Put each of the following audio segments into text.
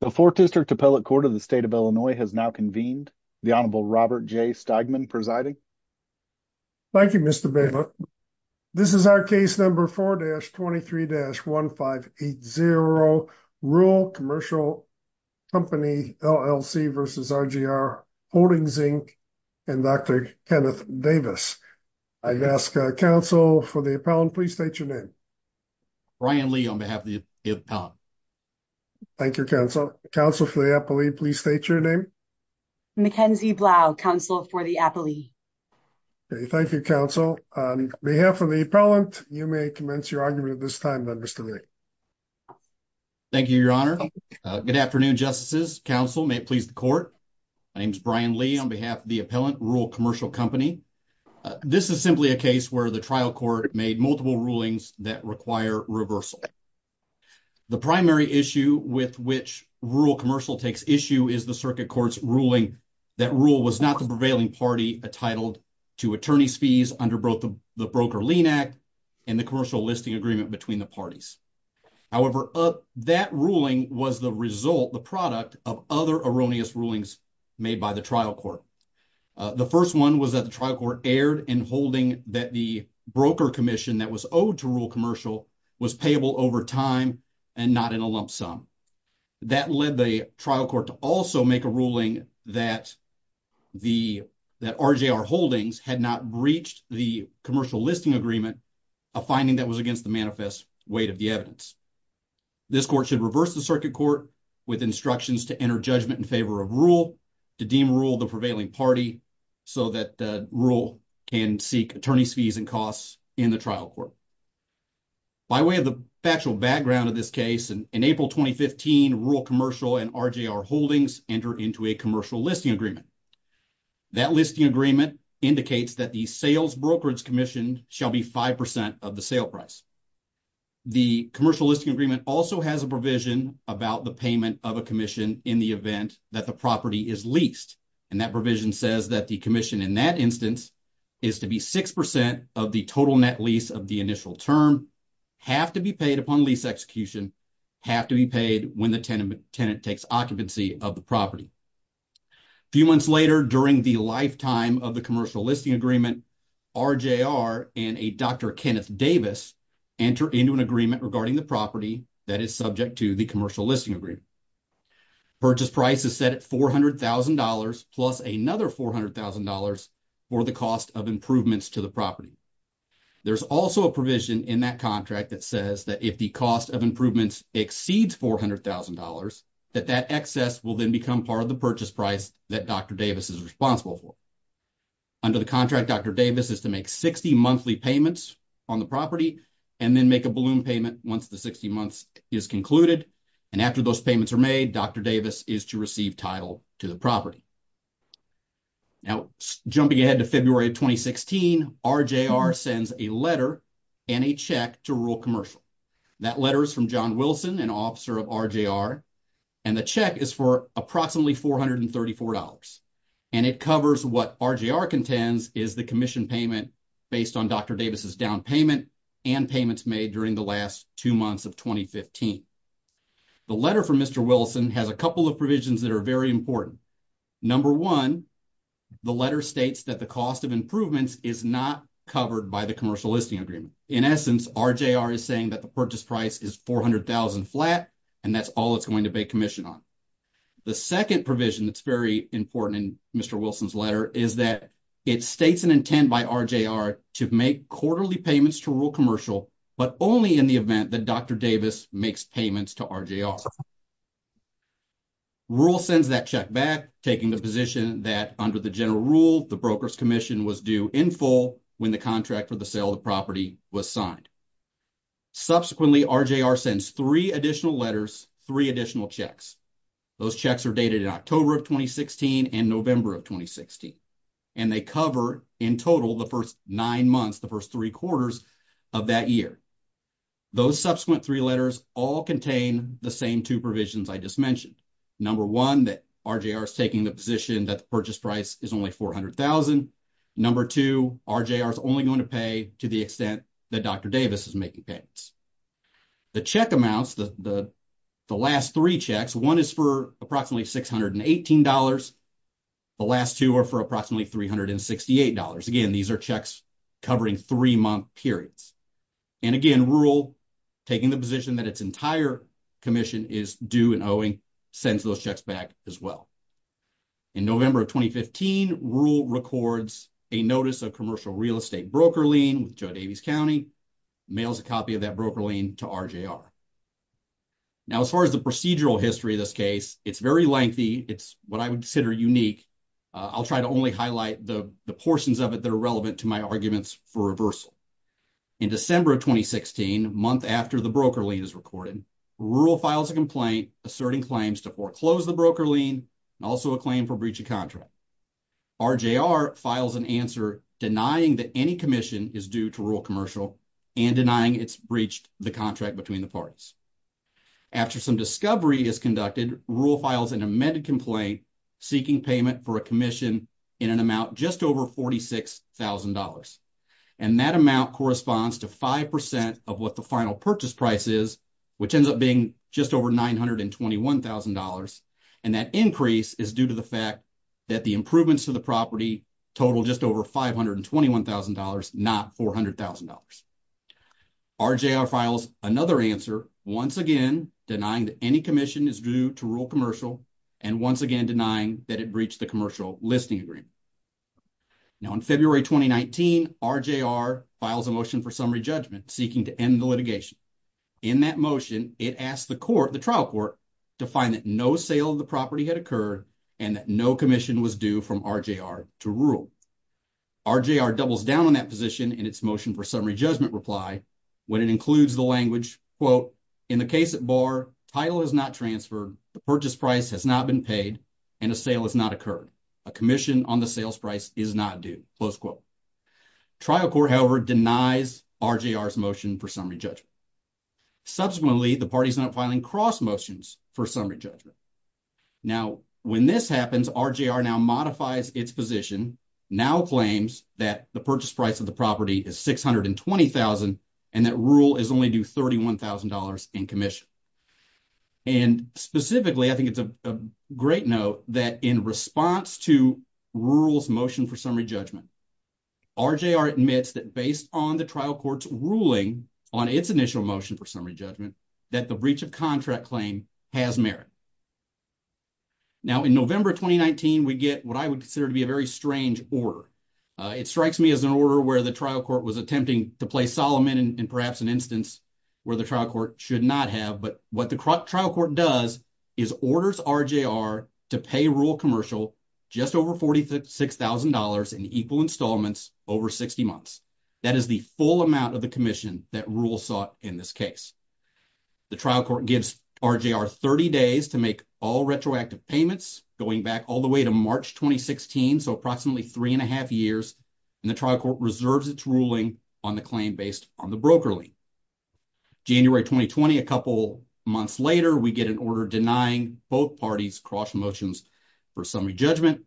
The Fourth District Appellate Court of the State of Illinois has now convened. The Honorable Robert J. Steigman presiding. Thank you, Mr. Bailiff. This is our case number 4-23-1580, Ruhl Commercial Company, LLC v. RJR Holdings, Inc., and Dr. Kenneth Davis. I ask counsel for the appellant, please state your name. Brian Lee on behalf of the appellant. Thank you, counsel. Counsel for the appellate, please state your name. Mackenzie Blau, counsel for the appellate. Okay, thank you, counsel. On behalf of the appellant, you may commence your argument at this time, Mr. Lee. Thank you, Your Honor. Good afternoon, justices, counsel. May it please the court. My name is Brian Lee on behalf of the appellant, Ruhl Commercial Company. This is simply a case where the trial court made multiple rulings that require reversal. The primary issue with which Ruhl Commercial takes issue is the circuit court's ruling that Ruhl was not the prevailing party entitled to attorney's fees under both the Broker-Lean Act and the commercial listing agreement between the parties. However, that ruling was the result, the product, of other erroneous rulings made by the trial court. The first one was that the trial court erred in holding that the broker commission that was owed to Ruhl Commercial was payable over time and not in a lump sum. That led the trial court to also make a ruling that RJR Holdings had not breached the commercial listing agreement, a finding that was against the manifest weight of the evidence. This court should reverse the circuit court with instructions to enter judgment in favor of Ruhl to deem Ruhl the prevailing party so that Ruhl can seek attorney's fees and costs in the trial court. By way of the factual background of this case, in April 2015, Ruhl Commercial and RJR Holdings enter into a commercial listing agreement. That listing agreement indicates that the sales brokerage commissioned shall be 5% of the sale price. The commercial listing agreement also has a provision about the payment of a commission in the event that the property is leased. That provision says that the commission in that instance is to be 6% of the total net lease of the initial term, have to be paid upon lease execution, have to be paid when the tenant takes occupancy of the property. A few months later, during the lifetime of the commercial listing agreement, RJR and a Dr. Kenneth Davis enter into an agreement regarding the property that is subject to the commercial listing agreement. Purchase price is set at $400,000 plus another $400,000 for the cost of improvements to the property. There's also a provision in that contract that says that if the cost of improvements exceeds $400,000, that that excess will then become part of the purchase price that Dr. Davis is responsible for. Under the contract, Dr. Davis is to make 60 monthly payments on the property and then make a payment once the 60 months is concluded. And after those payments are made, Dr. Davis is to receive title to the property. Now, jumping ahead to February of 2016, RJR sends a letter and a check to Rural Commercial. That letter is from John Wilson, an officer of RJR, and the check is for approximately $434. And it covers what RJR contends is the commission payment based on Dr. Davis' down payment and payments made during the last two months of 2015. The letter from Mr. Wilson has a couple of provisions that are very important. Number one, the letter states that the cost of improvements is not covered by the commercial listing agreement. In essence, RJR is saying that the purchase price is $400,000 flat and that's all it's going to pay commission on. The second provision that's very important in Mr. Wilson's letter is that it states an intent by RJR to make quarterly payments to Rural Commercial, but only in the event that Dr. Davis makes payments to RJR. Rural sends that check back, taking the position that under the general rule, the broker's commission was due in full when the contract for the sale of the property was signed. Subsequently, RJR sends three additional letters, three additional checks. Those checks are dated October of 2016 and November of 2016, and they cover in total the first nine months, the first three quarters of that year. Those subsequent three letters all contain the same two provisions I just mentioned. Number one, that RJR is taking the position that the purchase price is only $400,000. Number two, RJR is only going to pay to the extent that Dr. Davis is making payments. The check amounts, the last three checks, one is for approximately $618. The last two are for approximately $368. Again, these are checks covering three-month periods. And again, Rural taking the position that its entire commission is due and owing sends those checks back as well. In November of 2015, Rural records a notice of commercial real estate broker lien with Davis County, mails a copy of that broker lien to RJR. Now, as far as the procedural history of this case, it's very lengthy. It's what I would consider unique. I'll try to only highlight the portions of it that are relevant to my arguments for reversal. In December of 2016, a month after the broker lien is recorded, Rural files a complaint asserting claims to foreclose the broker lien and also a claim for breach of contract. RJR files an answer denying that commission is due to Rural Commercial and denying it's breached the contract between the parties. After some discovery is conducted, Rural files an amended complaint seeking payment for a commission in an amount just over $46,000. And that amount corresponds to 5% of what the final purchase price is, which ends up being just over $921,000. And that increase is due to the fact that the improvements to the property total just over $521,000, not $400,000. RJR files another answer, once again, denying that any commission is due to Rural Commercial and once again, denying that it breached the commercial listing agreement. Now, in February 2019, RJR files a motion for summary judgment seeking to end the litigation. In that motion, it asked the court, the trial court, to find that no sale of the property had occurred and that no commission was due from RJR to Rural. RJR doubles down on that position in its motion for summary judgment reply when it includes the language, quote, in the case at bar, title is not transferred, the purchase price has not been paid, and a sale has not occurred. A commission on the sales price is not due, close quote. Trial court, however, denies RJR's motion for summary judgment. Subsequently, the parties end up filing cross motions for summary judgment. Now, when this happens, RJR now modifies its position, now claims that the purchase price of the property is $620,000 and that Rural is only due $31,000 in commission. And specifically, I think it's a great note that in response to Rural's motion for summary judgment, RJR admits that based on the trial court's ruling on its initial motion for summary judgment, that the breach of contract claim has merit. Now, in November 2019, we get what I would consider to be a very strange order. It strikes me as an order where the trial court was attempting to play Solomon in perhaps an instance where the trial court should not have, but what the trial court does is orders RJR to pay Rural Commercial just over $46,000 in equal installments over 60 months. That is the full amount of the commission that Rural sought in this case. The trial court gives RJR 30 days to make all retroactive payments going back all the way to March 2016, so approximately three and a half years, and the trial court reserves its ruling on the claim based on the broker lien. January 2020, a couple months later, we get an order denying both parties cross motions for summary judgment.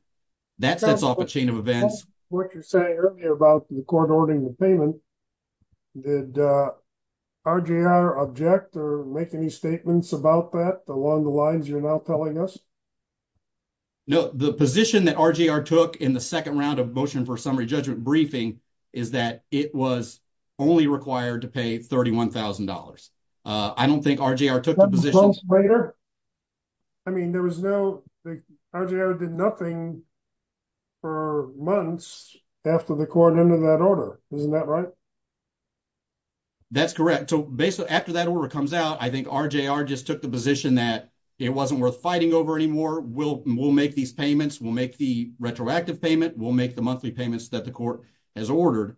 That sets off a chain of events. What you're saying earlier about the court ordering the payment, did RJR object or make any statements about that along the lines you're now telling us? No, the position that RJR took in the second round of motion for summary judgment briefing is that it was only required to pay $31,000. I don't think RJR took the position. Three months later? I mean, RJR did nothing for months after the court ended that order. Isn't that right? That's correct. After that order comes out, I think RJR just took the position that it wasn't worth fighting over anymore. We'll make these payments. We'll make the retroactive payment. We'll make the monthly payments that the court has ordered.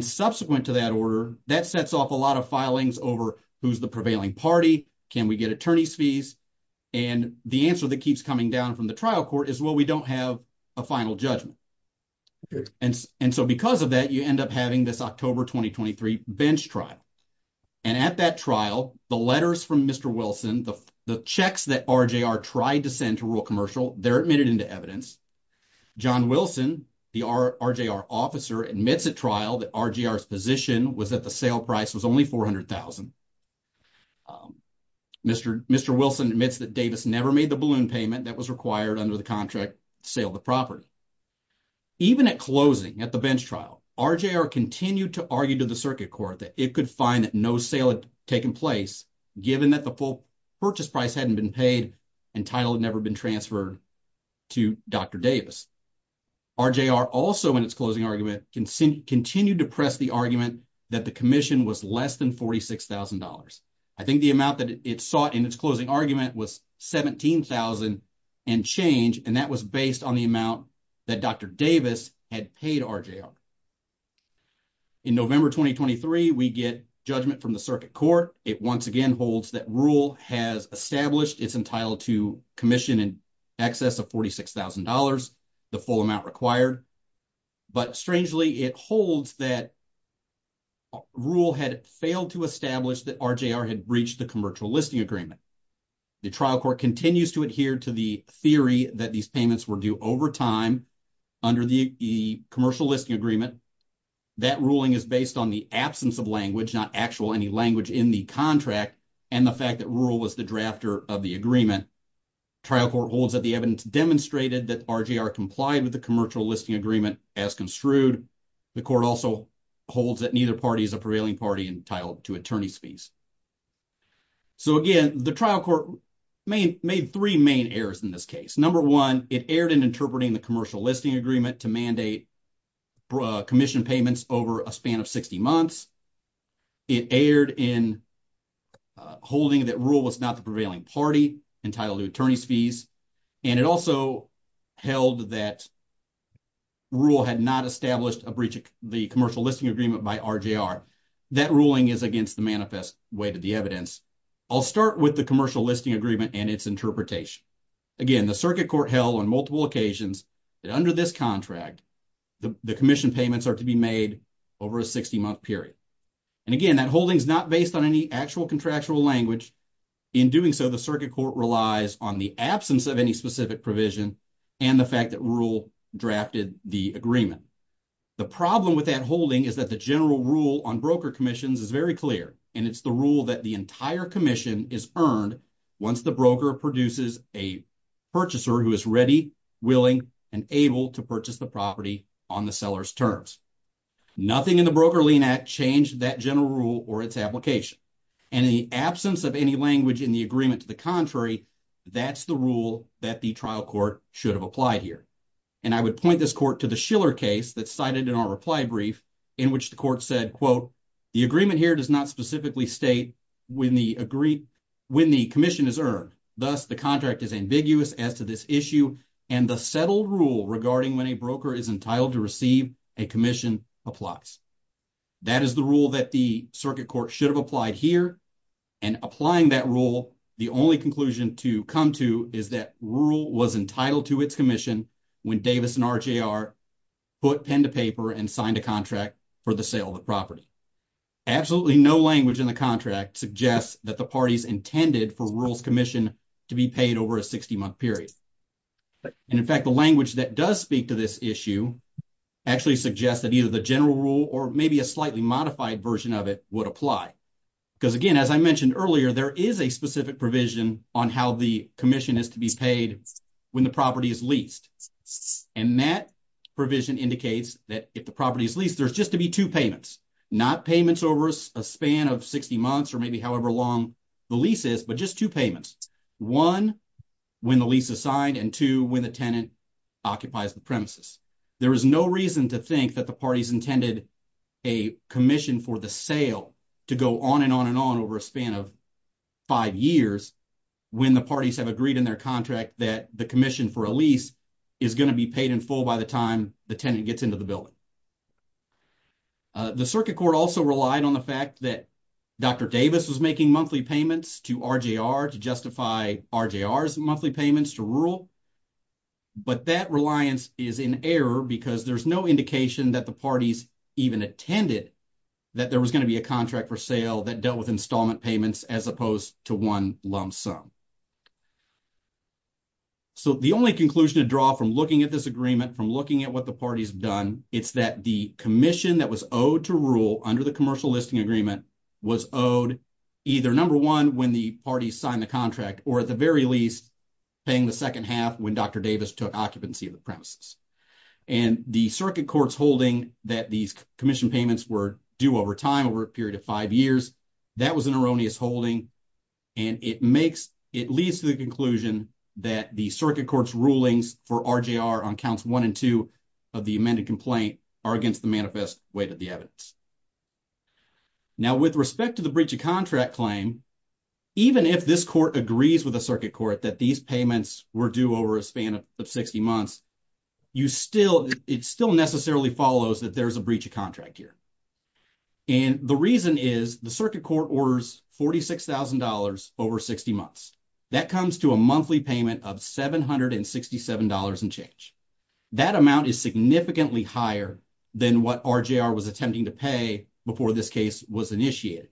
Subsequent to that order, that sets off a lot of filings over who's the prevailing party. Can we get attorney's fees? The answer that keeps coming down from the trial court is, well, we don't have a final judgment. Because of that, you end up having this October 2023 bench trial. At that trial, the letters from Mr. Wilson, the checks that RJR tried to send to rural commercial, they're admitted into evidence. John Wilson, the RJR officer, admits at trial that RJR's position was that the sale price was only $400,000. Mr. Wilson admits that Davis never made the balloon payment that was required under the contract to sale the property. Even at closing, at the bench trial, RJR continued to argue to the circuit court that it could find that no sale had taken place given that the full purchase price hadn't been paid and title had never been transferred to Dr. Davis. RJR also in its closing argument continued to press the argument that the commission was less than $46,000. I think the amount that it sought in its closing argument was $17,000 and change, and that was based on the amount that Dr. Davis had paid RJR. In November 2023, we get judgment from the circuit court. It once again holds that rule has established it's entitled to commission in excess of $46,000, the full amount required, but strangely it holds that rule had failed to establish that RJR had breached the commercial listing agreement. The trial court continues to adhere to the theory that these payments were due over time under the commercial listing agreement. That ruling is based on the absence of language, not actual any language in the contract, and the fact that rule was the drafter of the agreement. Trial court holds that the evidence demonstrated that RJR complied with the commercial listing agreement as construed. The court also holds that neither party is a prevailing party entitled to attorney's fees. So again, the trial court made three main errors in this case. Number one, it erred in interpreting the commercial listing agreement to mandate commission payments over a span of 60 months. It erred in holding that rule was not the prevailing party entitled to attorney's fees, and it also held that rule had not established a breach of the commercial listing agreement by RJR. That ruling is against the manifest weight of the evidence. I'll start with the commercial listing agreement and its interpretation. Again, the circuit court held on multiple occasions that under this contract, the commission payments are to be made over a 60-month period. And again, that holding is not based on any actual contractual language. In doing so, the circuit court relies on the absence of any specific provision and the fact that rule drafted the agreement. The problem with that holding is that the general rule on broker commissions is very clear, and it's the rule that the entire commission is earned once the produces a purchaser who is ready, willing, and able to purchase the property on the seller's terms. Nothing in the broker lien act changed that general rule or its application. And in the absence of any language in the agreement to the contrary, that's the rule that the trial court should have applied here. And I would point this court to the Schiller case that's cited in our reply brief, in which the court said, quote, the agreement here does not specifically state when the agreed, when the commission is earned. Thus, the contract is ambiguous as to this issue and the settled rule regarding when a broker is entitled to receive a commission applies. That is the rule that the circuit court should have applied here. And applying that rule, the only conclusion to come to is that rule was entitled to its commission when Davis and RJR put pen to paper and signed a contract for the sale of the property. Absolutely no language in the intended for rules commission to be paid over a 60-month period. And in fact, the language that does speak to this issue actually suggests that either the general rule or maybe a slightly modified version of it would apply. Because again, as I mentioned earlier, there is a specific provision on how the commission is to be paid when the property is leased. And that provision indicates that if the property is leased, there's just to be two payments, not payments over a span of 60 months or maybe however long the lease is, but just two payments. One, when the lease is signed and two, when the tenant occupies the premises. There is no reason to think that the parties intended a commission for the sale to go on and on and on over a span of five years, when the parties have agreed in their contract that the commission for a lease is going to be paid in full by the time the tenant gets into the building. The circuit court also relied on the fact that Dr. Davis was making monthly payments to RJR to justify RJR's monthly payments to rural. But that reliance is in error because there's no indication that the parties even attended that there was going to be a contract for sale that dealt with installment payments as opposed to one lump sum. So the only conclusion to draw from looking at this agreement, from looking at what the parties have done, it's that the commission that was owed to rule under the commercial listing agreement was owed either, number one, when the parties signed the contract, or at the very least, paying the second half when Dr. Davis took occupancy of the premises. And the circuit court's holding that these commission payments were due over time, over a period of five years, that was an erroneous holding. And it makes, it leads to the conclusion that the circuit court's rulings for RJR on counts one and two of the amended complaint are against the manifest weight of the evidence. Now with respect to the breach of contract claim, even if this court agrees with the circuit court that these payments were due over a span of 60 months, it still necessarily follows that there's a breach of contract here. And the reason is the circuit court orders $46,000 over 60 months. That comes to a monthly payment of $767 and change. That amount is significantly higher than what RJR was attempting to pay before this case was initiated.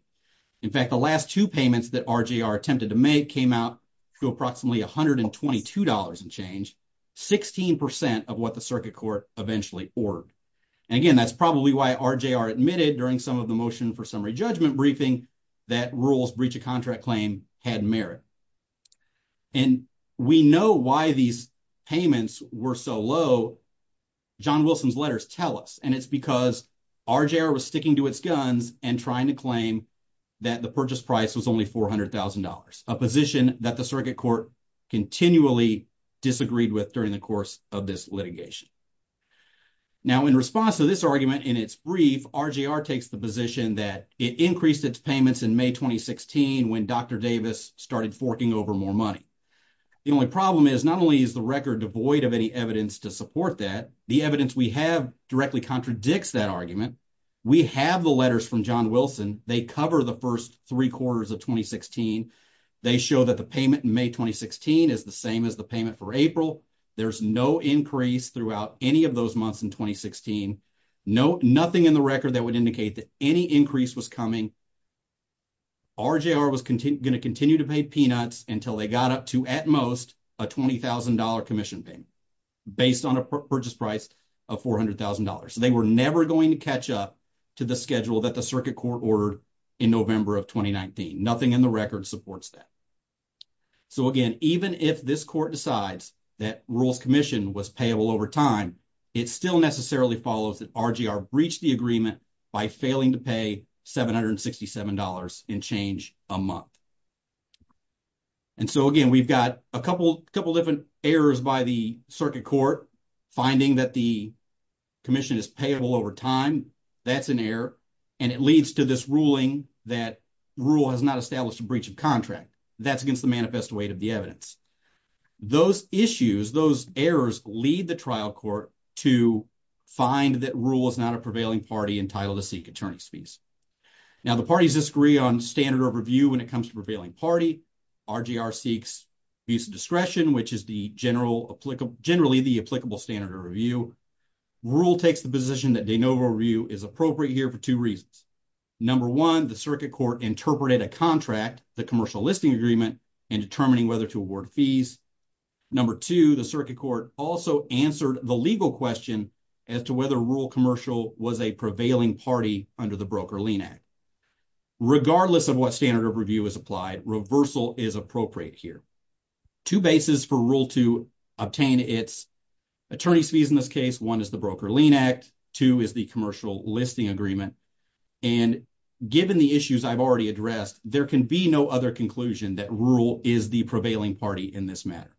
In fact, the last two payments that RJR attempted to make came out to approximately $122 and change, 16% of what the circuit court eventually ordered. And again, that's probably why RJR admitted during some of the motion for briefing that rules breach of contract claim had merit. And we know why these payments were so low. John Wilson's letters tell us, and it's because RJR was sticking to its guns and trying to claim that the purchase price was only $400,000, a position that the circuit court continually disagreed with during the course of this litigation. Now, in response to this argument in its brief, RJR takes the position that it increased its payments in May, 2016, when Dr. Davis started forking over more money. The only problem is not only is the record devoid of any evidence to support that, the evidence we have directly contradicts that argument. We have the letters from John Wilson. They cover the first three quarters of 2016. They show that the payment in May, 2016 is the same as the payment for April. There's no increase throughout any of those months in 2016. Nothing in the record that would indicate that any increase was coming. RJR was going to continue to pay peanuts until they got up to at most a $20,000 commission payment based on a purchase price of $400,000. So they were never going to catch up to the schedule that the circuit court ordered in November of 2019. Nothing in the record supports that. So again, even if this court decides that Rural's commission was payable over time, it still necessarily follows that RJR breached the agreement by failing to pay $767 in change a month. And so again, we've got a couple different errors by the circuit court finding that the commission is payable over time. That's an error. And it leads to this ruling that Rural has not established a breach of contract. That's against manifest weight of the evidence. Those issues, those errors lead the trial court to find that Rural is not a prevailing party entitled to seek attorney's fees. Now the parties disagree on standard of review when it comes to prevailing party. RJR seeks use of discretion, which is generally the applicable standard of review. Rural takes the position that de novo review is appropriate here for two reasons. Number one, the circuit court interpreted a contract, the commercial listing agreement, in determining whether to award fees. Number two, the circuit court also answered the legal question as to whether Rural Commercial was a prevailing party under the Broker-Lean Act. Regardless of what standard of review is applied, reversal is appropriate here. Two bases for Rural to obtain its attorney's fees in this case. One is the Broker-Lean Act. Two is the commercial listing agreement. And given the issues I've already addressed, there can be no other conclusion that Rural is the prevailing party in this matter.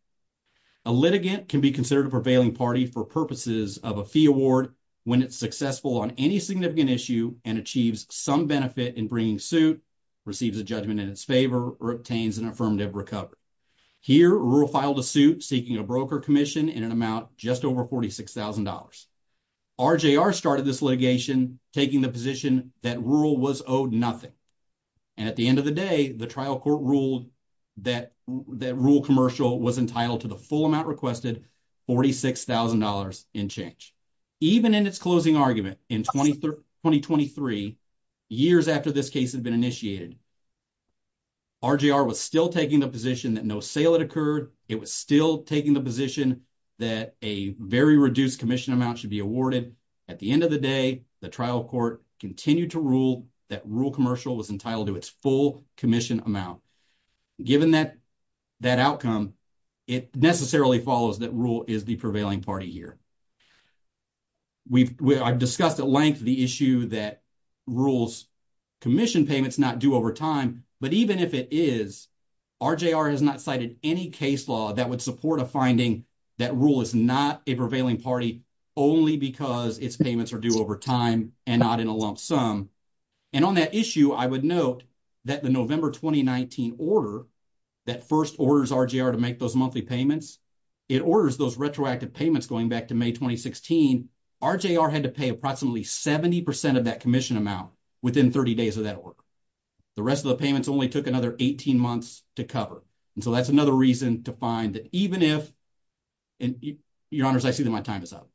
A litigant can be considered a prevailing party for purposes of a fee award when it's successful on any significant issue and achieves some benefit in bringing suit, receives a judgment in its favor, or obtains an affirmative recovery. Here, Rural filed a suit seeking a broker commission in an amount just over $46,000. RJR started this litigation taking the position that Rural was nothing. And at the end of the day, the trial court ruled that Rural Commercial was entitled to the full amount requested, $46,000 in change. Even in its closing argument in 2023, years after this case had been initiated, RJR was still taking the position that no sale had occurred. It was still taking the position that a very reduced commission amount should be awarded. At the end of the day, the trial court continued to rule that Rural Commercial was entitled to its full commission amount. Given that outcome, it necessarily follows that Rural is the prevailing party here. I've discussed at length the issue that Rural's commission payments not due over time. But even if it is, RJR has not cited any case law that would support a finding that Rural is not a prevailing party only because its payments are due over time and not in a lump sum. And on that issue, I would note that the November 2019 order that first orders RJR to make those monthly payments, it orders those retroactive payments going back to May 2016. RJR had to pay approximately 70% of that commission amount within 30 days of that order. The rest of the payments only took another 18 months to cover. And so that's another reason to find that even if, and your honors, I see that my time is up.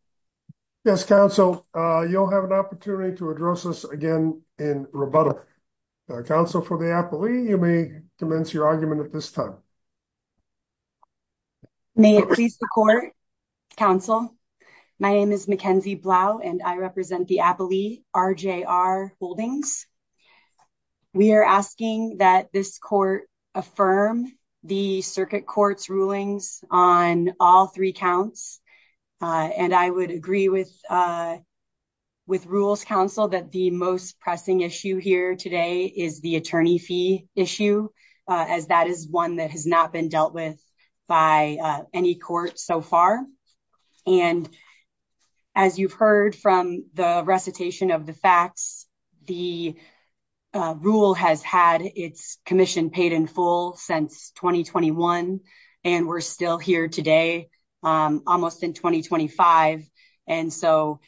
Yes, counsel, you'll have an opportunity to address us again in rebuttal. Counsel for the appellee, you may commence your argument at this time. May it please the court, counsel. My name is Mackenzie Blau and I represent the appellee RJR Holdings. We are asking that this court affirm the circuit court's rulings on all three counts. And I would agree with Rural's counsel that the most pressing issue here today is the attorney fee issue, as that is one that has not been dealt with by any court so far. And as you've heard from the recitation of the facts, the rule has had its commission paid in full since 2021. And we're still here today, almost in 2025. And so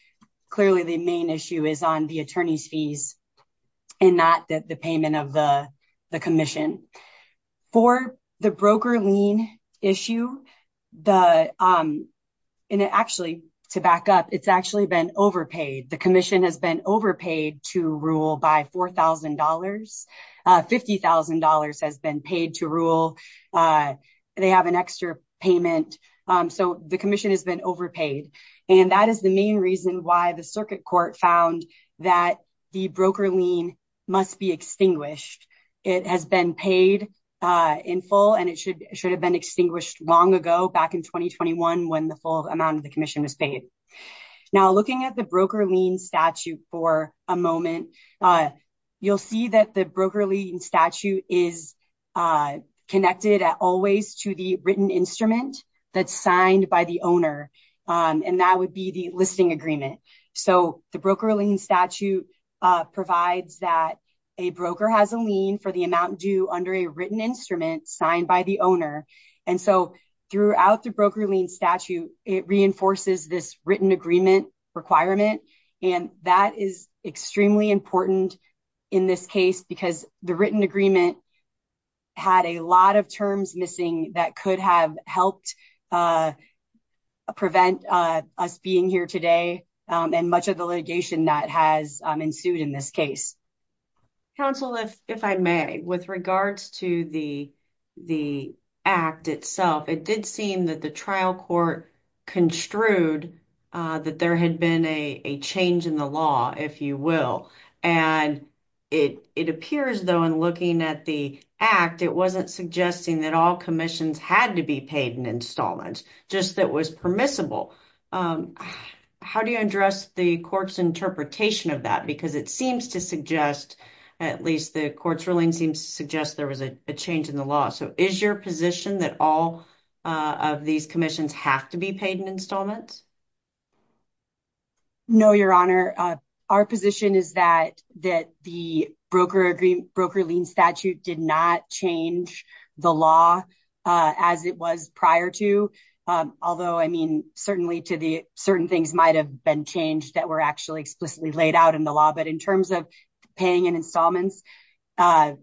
clearly the main issue is on the attorney's fees and not the payment of the commission. For the broker lien issue, the, and actually to back up, it's actually been overpaid. The commission has been overpaid to rule by $4,000. $50,000 has been paid to rule. They have an extra payment. So the commission has been overpaid. And that is the main reason why the circuit court found that the broker lien must be extinguished. It has been paid in full and it should have been extinguished long ago back in 2021 when the full amount of the Now looking at the broker lien statute for a moment, you'll see that the broker lien statute is connected at always to the written instrument that's signed by the owner. And that would be the listing agreement. So the broker lien statute provides that a broker has a lien for the amount due under a written instrument signed by the owner. And so throughout the broker lien statute, it reinforces this written agreement requirement. And that is extremely important in this case because the written agreement had a lot of terms missing that could have helped prevent us being here today. And much of the litigation that has ensued in this case. Counsel, if I may, with regards to the act itself, it did seem that the trial court construed that there had been a change in the law, if you will. And it appears though, in looking at the act, it wasn't suggesting that all commissions had to be paid in installments, just that was permissible. How do you address the court's interpretation of that? Because it seems to suggest, at least the court's ruling seems to suggest there was a change in the law. So is your position that all of these commissions have to be paid in installments? No, your honor. Our position is that the broker lien statute did not change the law as it was prior to. Although, I mean, certainly to the certain things might have been changed that were actually explicitly laid out in the law. But in terms of paying in installments, I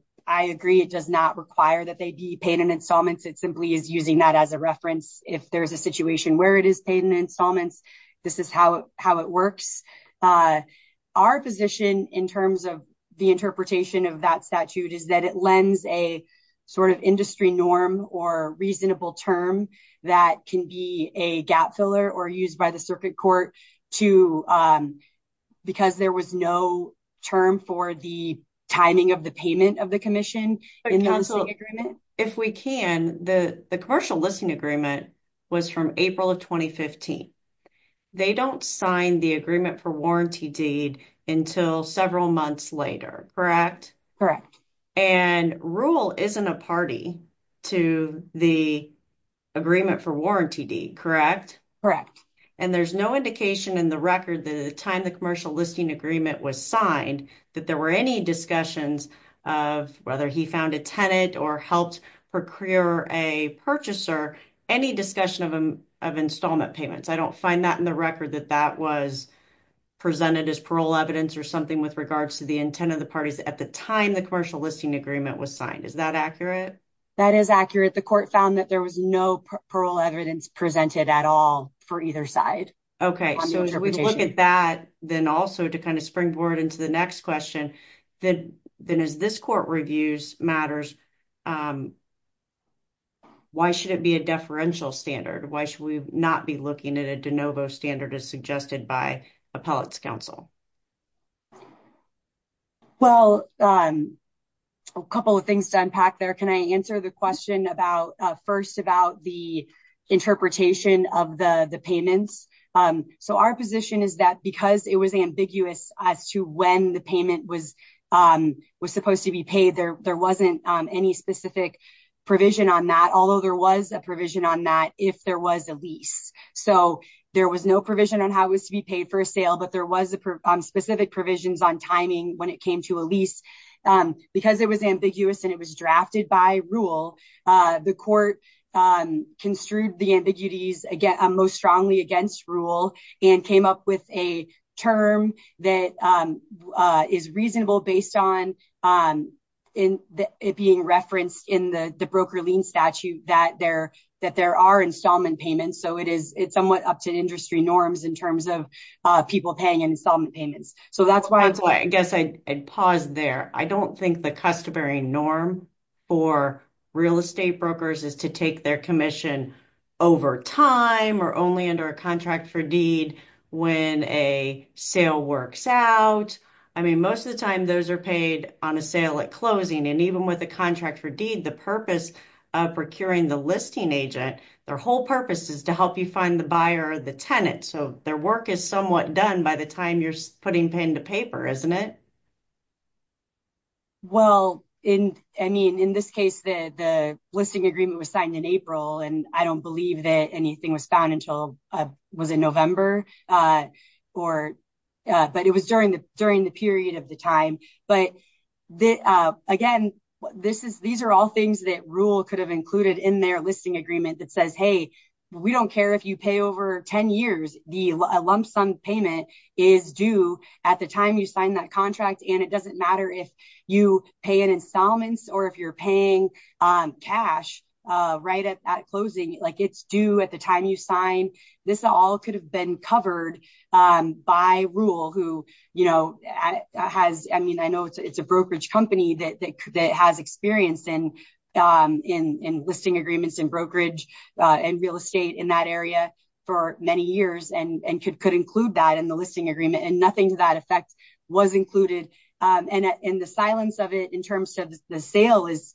agree, it does not require that they be paid in installments. It simply is using that as a reference. If there's a situation where it is paid in installments, this is how it works. Our position in terms of the interpretation of that statute is that it lends a sort of industry norm or reasonable term that can be a gap filler or used by the circuit court to, because there was no term for the timing of the payment of the commission. If we can, the commercial listing agreement was from April of 2015. They don't sign the agreement for warranty deed until several months later, correct? Correct. And rule isn't a party. To the agreement for warranty deed, correct? Correct. And there's no indication in the record that at the time the commercial listing agreement was signed, that there were any discussions of whether he found a tenant or helped procure a purchaser, any discussion of installment payments. I don't find that in the record that that was presented as parole evidence or something with regards to the intent of the parties at the time the commercial listing agreement was signed. Is that accurate? That is accurate. The court found that there was no parole evidence presented at all for either side. Okay, so as we look at that, then also to kind of springboard into the next question, then as this court reviews matters, why should it be a deferential standard? Why should we not be looking at a de novo standard as suggested by appellate's counsel? Well, a couple of things to unpack there. Can I answer the question first about the interpretation of the payments? So our position is that because it was ambiguous as to when the payment was supposed to be paid, there wasn't any specific provision on that, although there was a provision on that if there was a lease. So there was no on how it was to be paid for a sale, but there was specific provisions on timing when it came to a lease. Because it was ambiguous and it was drafted by rule, the court construed the ambiguities most strongly against rule and came up with a term that is reasonable based on it being referenced in the broker lien statute that there are installment payments. So it is somewhat up to industry norms in terms of people paying installment payments. So that's why I guess I'd pause there. I don't think the customary norm for real estate brokers is to take their commission over time or only under a contract for deed when a sale works out. I mean, most of the time those are paid on a sale at closing. And even with a contract for deed, the purpose of procuring the listing agent, their whole purpose is to help you find the buyer or the tenant. So their work is somewhat done by the time you're putting pen to paper, isn't it? Well, in this case, the listing agreement was signed in April and I don't believe that anything was found until, was it November? But it was during the period of the time. But again, these are all things that rule could have included in their listing agreement that says, hey, we don't care if you pay over 10 years, the lump sum payment is due at the time you sign that contract. And it doesn't matter if you pay in installments or if you're paying cash right at closing, like it's due at the time you sign. This all could have been covered by rule who has, I mean, I know it's a brokerage company that has experience in listing agreements and brokerage and real estate in that area for many years and could include that in the listing agreement and nothing to that effect was included. And the silence of it in terms of the sale is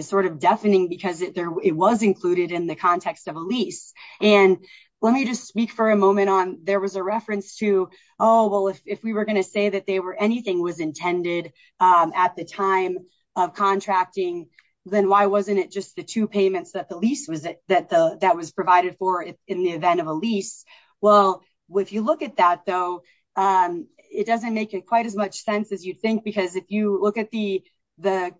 sort of deafening because it was included in the context of a lease. And let me just speak for a moment on, there was a reference to, oh, well, if we were going to say that they were anything was intended at the time of contracting, then why wasn't it just the two payments that the lease that was provided for in the event of a lease? Well, if you look at that, though, it doesn't make it quite as much sense as you'd think, because if you look at the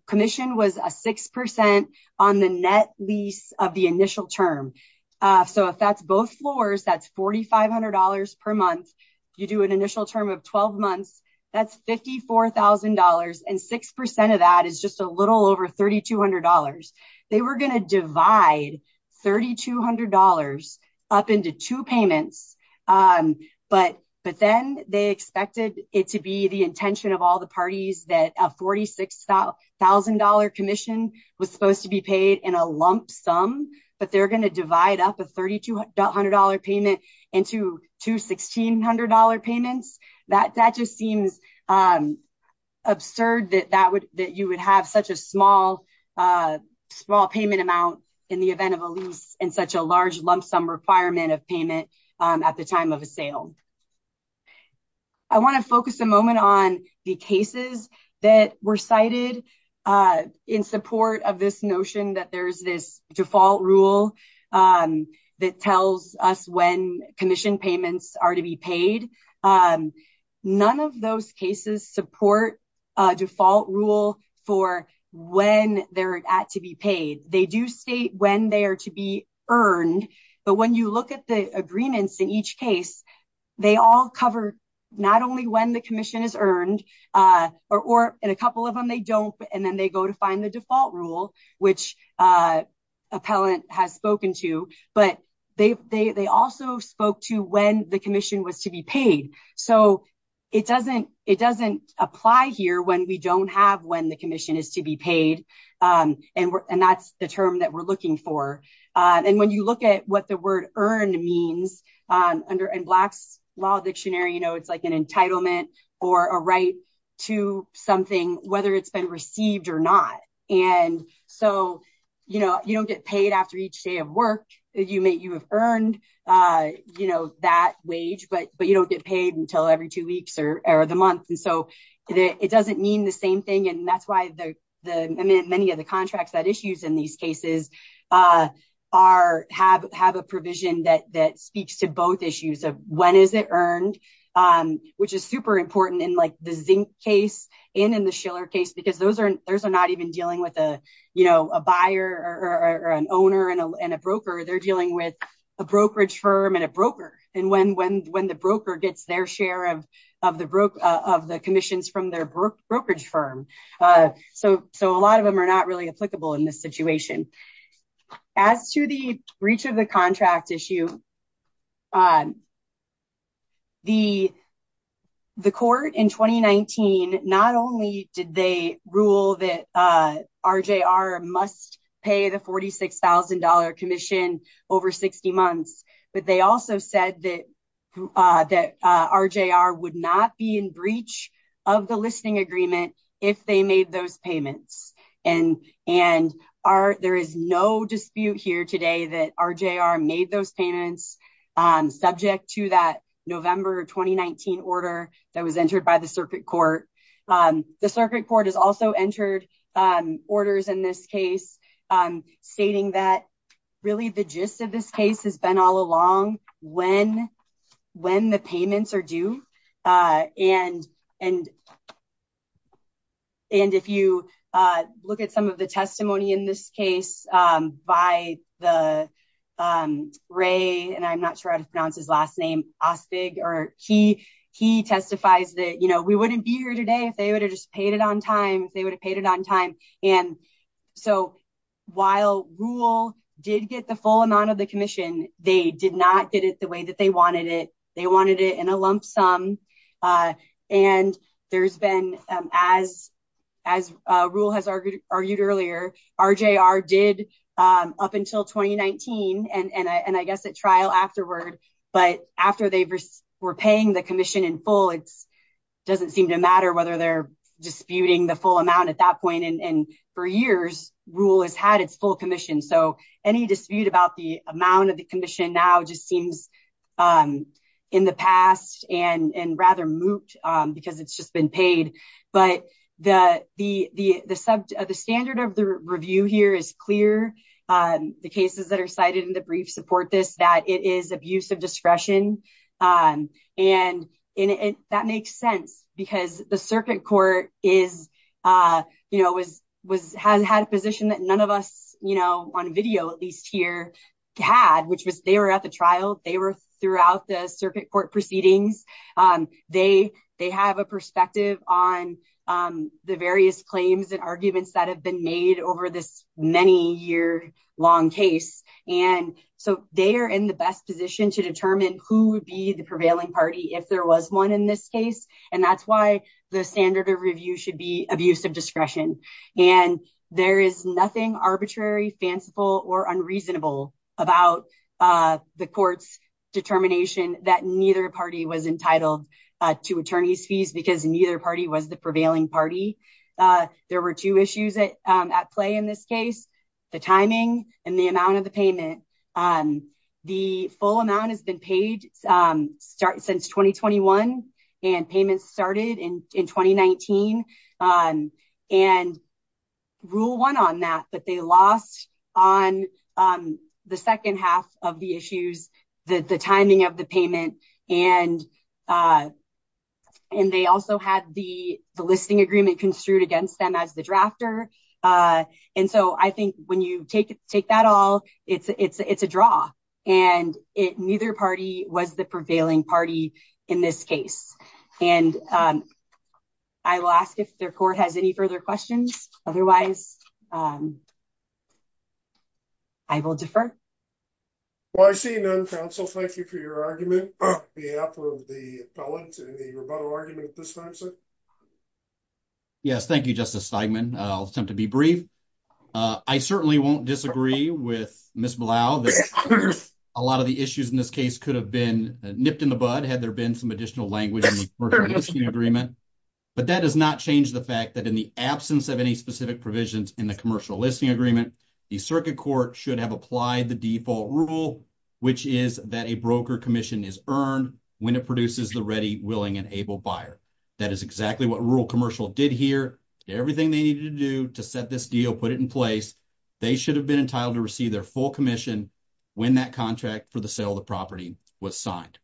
commission was a 6% on the net lease of the initial term. So if that's both floors, that's $4,500 per month. You do an initial term of 12 months, that's $54,000. And 6% of that is just a little over $3,200. They were going to divide $3,200 up into two payments. But then they expected it to be the intention of all the parties that a $46,000 commission was supposed to be paid in a lump sum, but they're going to divide up a $3,200 payment into two $1,600 payments. That just seems absurd that you would have such a small payment amount in the event of a lease in such a large lump sum requirement of payment at the time of a sale. I want to focus a moment on the cases that were cited in support of this notion that there's this default rule that tells us when commission payments are to be paid. None of those cases support a default rule for when they're at to be paid. They do state when they are to be earned, but when you look at the agreements in each case, they all cover not only when the commission is earned, or in a couple of them they don't, and then they go to find the default rule, which appellant has spoken to, but they also spoke to when the commission was to be paid. So it doesn't apply here when we don't have when the commission is to be paid. And that's the term that we're looking for. And when you look at what the word earned means, in Black's Law Dictionary, it's like an entitlement or a right to something whether it's been received or not. And so you don't get paid after each day of work. You may have earned that wage, but you don't get paid until every two weeks or the month. And so it doesn't mean the same thing. And that's why many of the contracts that issues in these cases have a provision that speaks to both issues of when is it earned, which is super important in the Zink case and in the Schiller case, because those are not even dealing with a buyer or an owner and a broker. They're dealing with a brokerage firm and a broker. And when the broker gets their share of the commission's from their brokerage firm. So a lot of them are not really applicable in this situation. As to the breach of the contract issue, the court in 2019, not only did they rule that RJR must pay the $46,000 commission over 60 months, but they also said that RJR would not be in breach of the listing agreement if they made those payments. And there is no dispute here today that RJR made those payments subject to that November 2019 order that was entered by the circuit court. The circuit court has also entered orders in this case, stating that really the gist of this case has been all along when the payments are due. And if you look at some of the testimony in this case by the Ray, and I'm not sure how to pronounce his last name, Ospig, or he testifies that we wouldn't be here today if they would have just paid it on time, if they would have paid it on time. And so while Rule did get the full amount of the commission, they did not get it the way that they wanted it. They wanted it in a lump sum. And there's been, as Rule has argued earlier, RJR did up until 2019, and I guess at trial afterward, but after they were paying the commission in full, doesn't seem to matter whether they're disputing the full amount at that point. And for years, Rule has had its full commission. So any dispute about the amount of the commission now just seems in the past and rather moot because it's just been paid. But the standard of the review here is clear. The cases that are cited in the brief support this, that it is abuse of discretion. And that makes sense because the circuit court has had a position that none of us on video, at least here, had, which was they were at the trial, they were throughout the circuit court proceedings. They have a perspective on the various claims and arguments that have been made over this many year long case. And so they are in the best position to determine who would be the prevailing party if there was one in this case. And that's why the standard of review should be abuse of discretion. And there is nothing arbitrary, fanciful, or unreasonable about the court's determination that neither party was entitled to attorney's fees because neither party was the prevailing party. There were two issues at play in this case, the timing and the amount of the payment. The full amount has been paid since 2021 and payments started in 2019. And Rule won on that, but they lost on the second half of the issues, the timing of the payment. And they also had the listing agreement construed against them as the drafter. And so I think when you take that all, it's a draw. And neither party was the prevailing party in this case. And I will ask if the court has any further questions. Otherwise, I will defer. Well, I see none, counsel. Thank you for your argument on behalf of the appellate and the rebuttal argument at this time, sir. Yes, thank you, Justice Steigman. I'll attempt to be brief. I certainly won't disagree with Ms. Blau that a lot of the issues in this case could have been nipped in the bud had there been some additional language in the commercial listing agreement. But that does not change the fact that in the absence of any specific provisions in the default rule, which is that a broker commission is earned when it produces the ready, willing, and able buyer. That is exactly what Rural Commercial did here, did everything they needed to do to set this deal, put it in place. They should have been entitled to receive their full commission when that contract for the sale of the property was signed.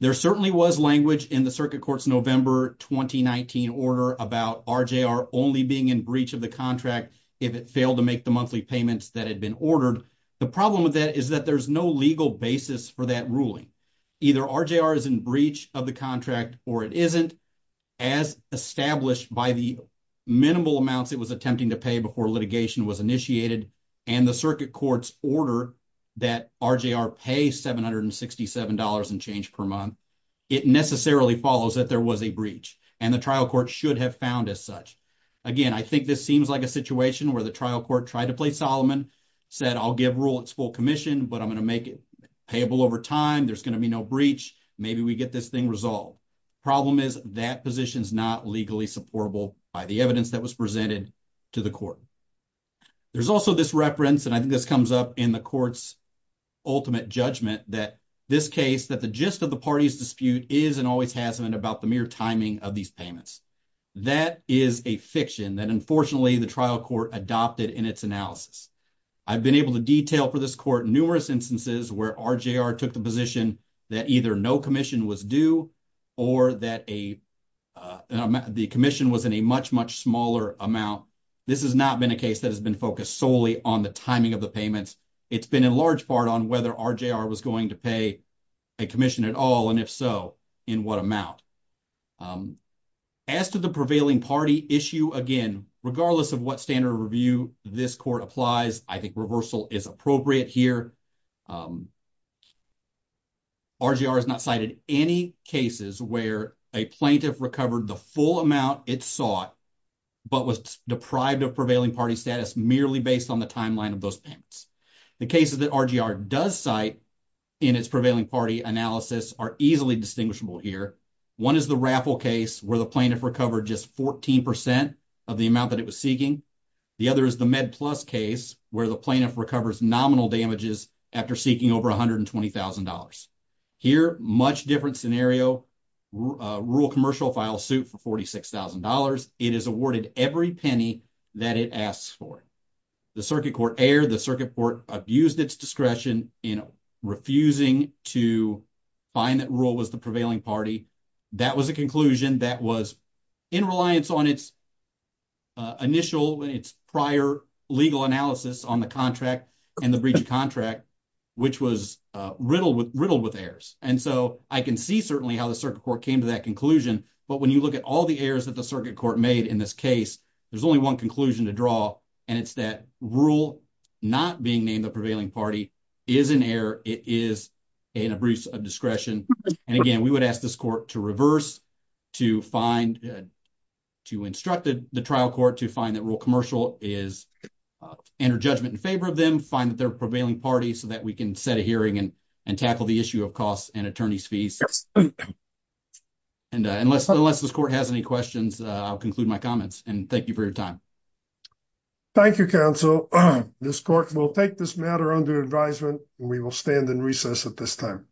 There certainly was language in the Circuit Court's November 2019 order about RJR only being in breach of the contract if it failed to make the monthly payments that had been ordered. The problem with that is that there's no legal basis for that ruling. Either RJR is in breach of the contract or it isn't. As established by the minimal amounts it was attempting to pay before litigation was initiated and the Circuit Court's order that RJR pay $767 and change per month, it necessarily follows that there was a breach and the trial court should have found as such. Again, I think this seems like a situation where the trial court tried to play Solomon, said I'll give Rural its full commission, but I'm going to make it payable over time, there's going to be no breach, maybe we get this thing resolved. Problem is, that position's not legally supportable by the evidence that was presented to the court. There's also this reference, and I think this comes up in the court's ultimate judgment, that this case, that the gist of the party's dispute is and always has been about the timing of these payments. That is a fiction that unfortunately the trial court adopted in its analysis. I've been able to detail for this court numerous instances where RJR took the position that either no commission was due or that the commission was in a much, much smaller amount. This has not been a case that has been focused solely on the timing of the payments. It's been in large part on whether RJR was going to pay a commission at all, and if so, in what amount. As to the prevailing party issue, again, regardless of what standard of review this court applies, I think reversal is appropriate here. RJR has not cited any cases where a plaintiff recovered the full amount it sought, but was deprived of prevailing party status merely based on the timeline of those payments. The cases that RJR does cite in its prevailing party analysis are easily distinguishable here. One is the Raffle case where the plaintiff recovered just 14 percent of the amount that it was seeking. The other is the Med Plus case where the plaintiff recovers nominal damages after seeking over $120,000. Here, much different scenario, rural commercial file suit for $46,000. It is awarded every penny that it asks for. The circuit court erred. The circuit court abused its discretion in refusing to find that rural was the prevailing party. That was a conclusion that was in reliance on its initial, its prior legal analysis on the contract and the breach of contract, which was riddled with errors. I can see certainly how the circuit court came to that conclusion. When you look at all the errors that the circuit court made in this case, there's only one conclusion to draw. It's that rural not being named the prevailing party is an error. It is an abuse of discretion. Again, we would ask this court to reverse, to find, to instruct the trial court to find that rural commercial is under judgment in favor of them, find that they're prevailing party so that we can set a hearing and tackle the issue of costs and attorney's fees. Unless this court has any questions, I'll conclude my comments and thank you for your time. Thank you, counsel. This court will take this matter under advisement and we will stand in recess at this time.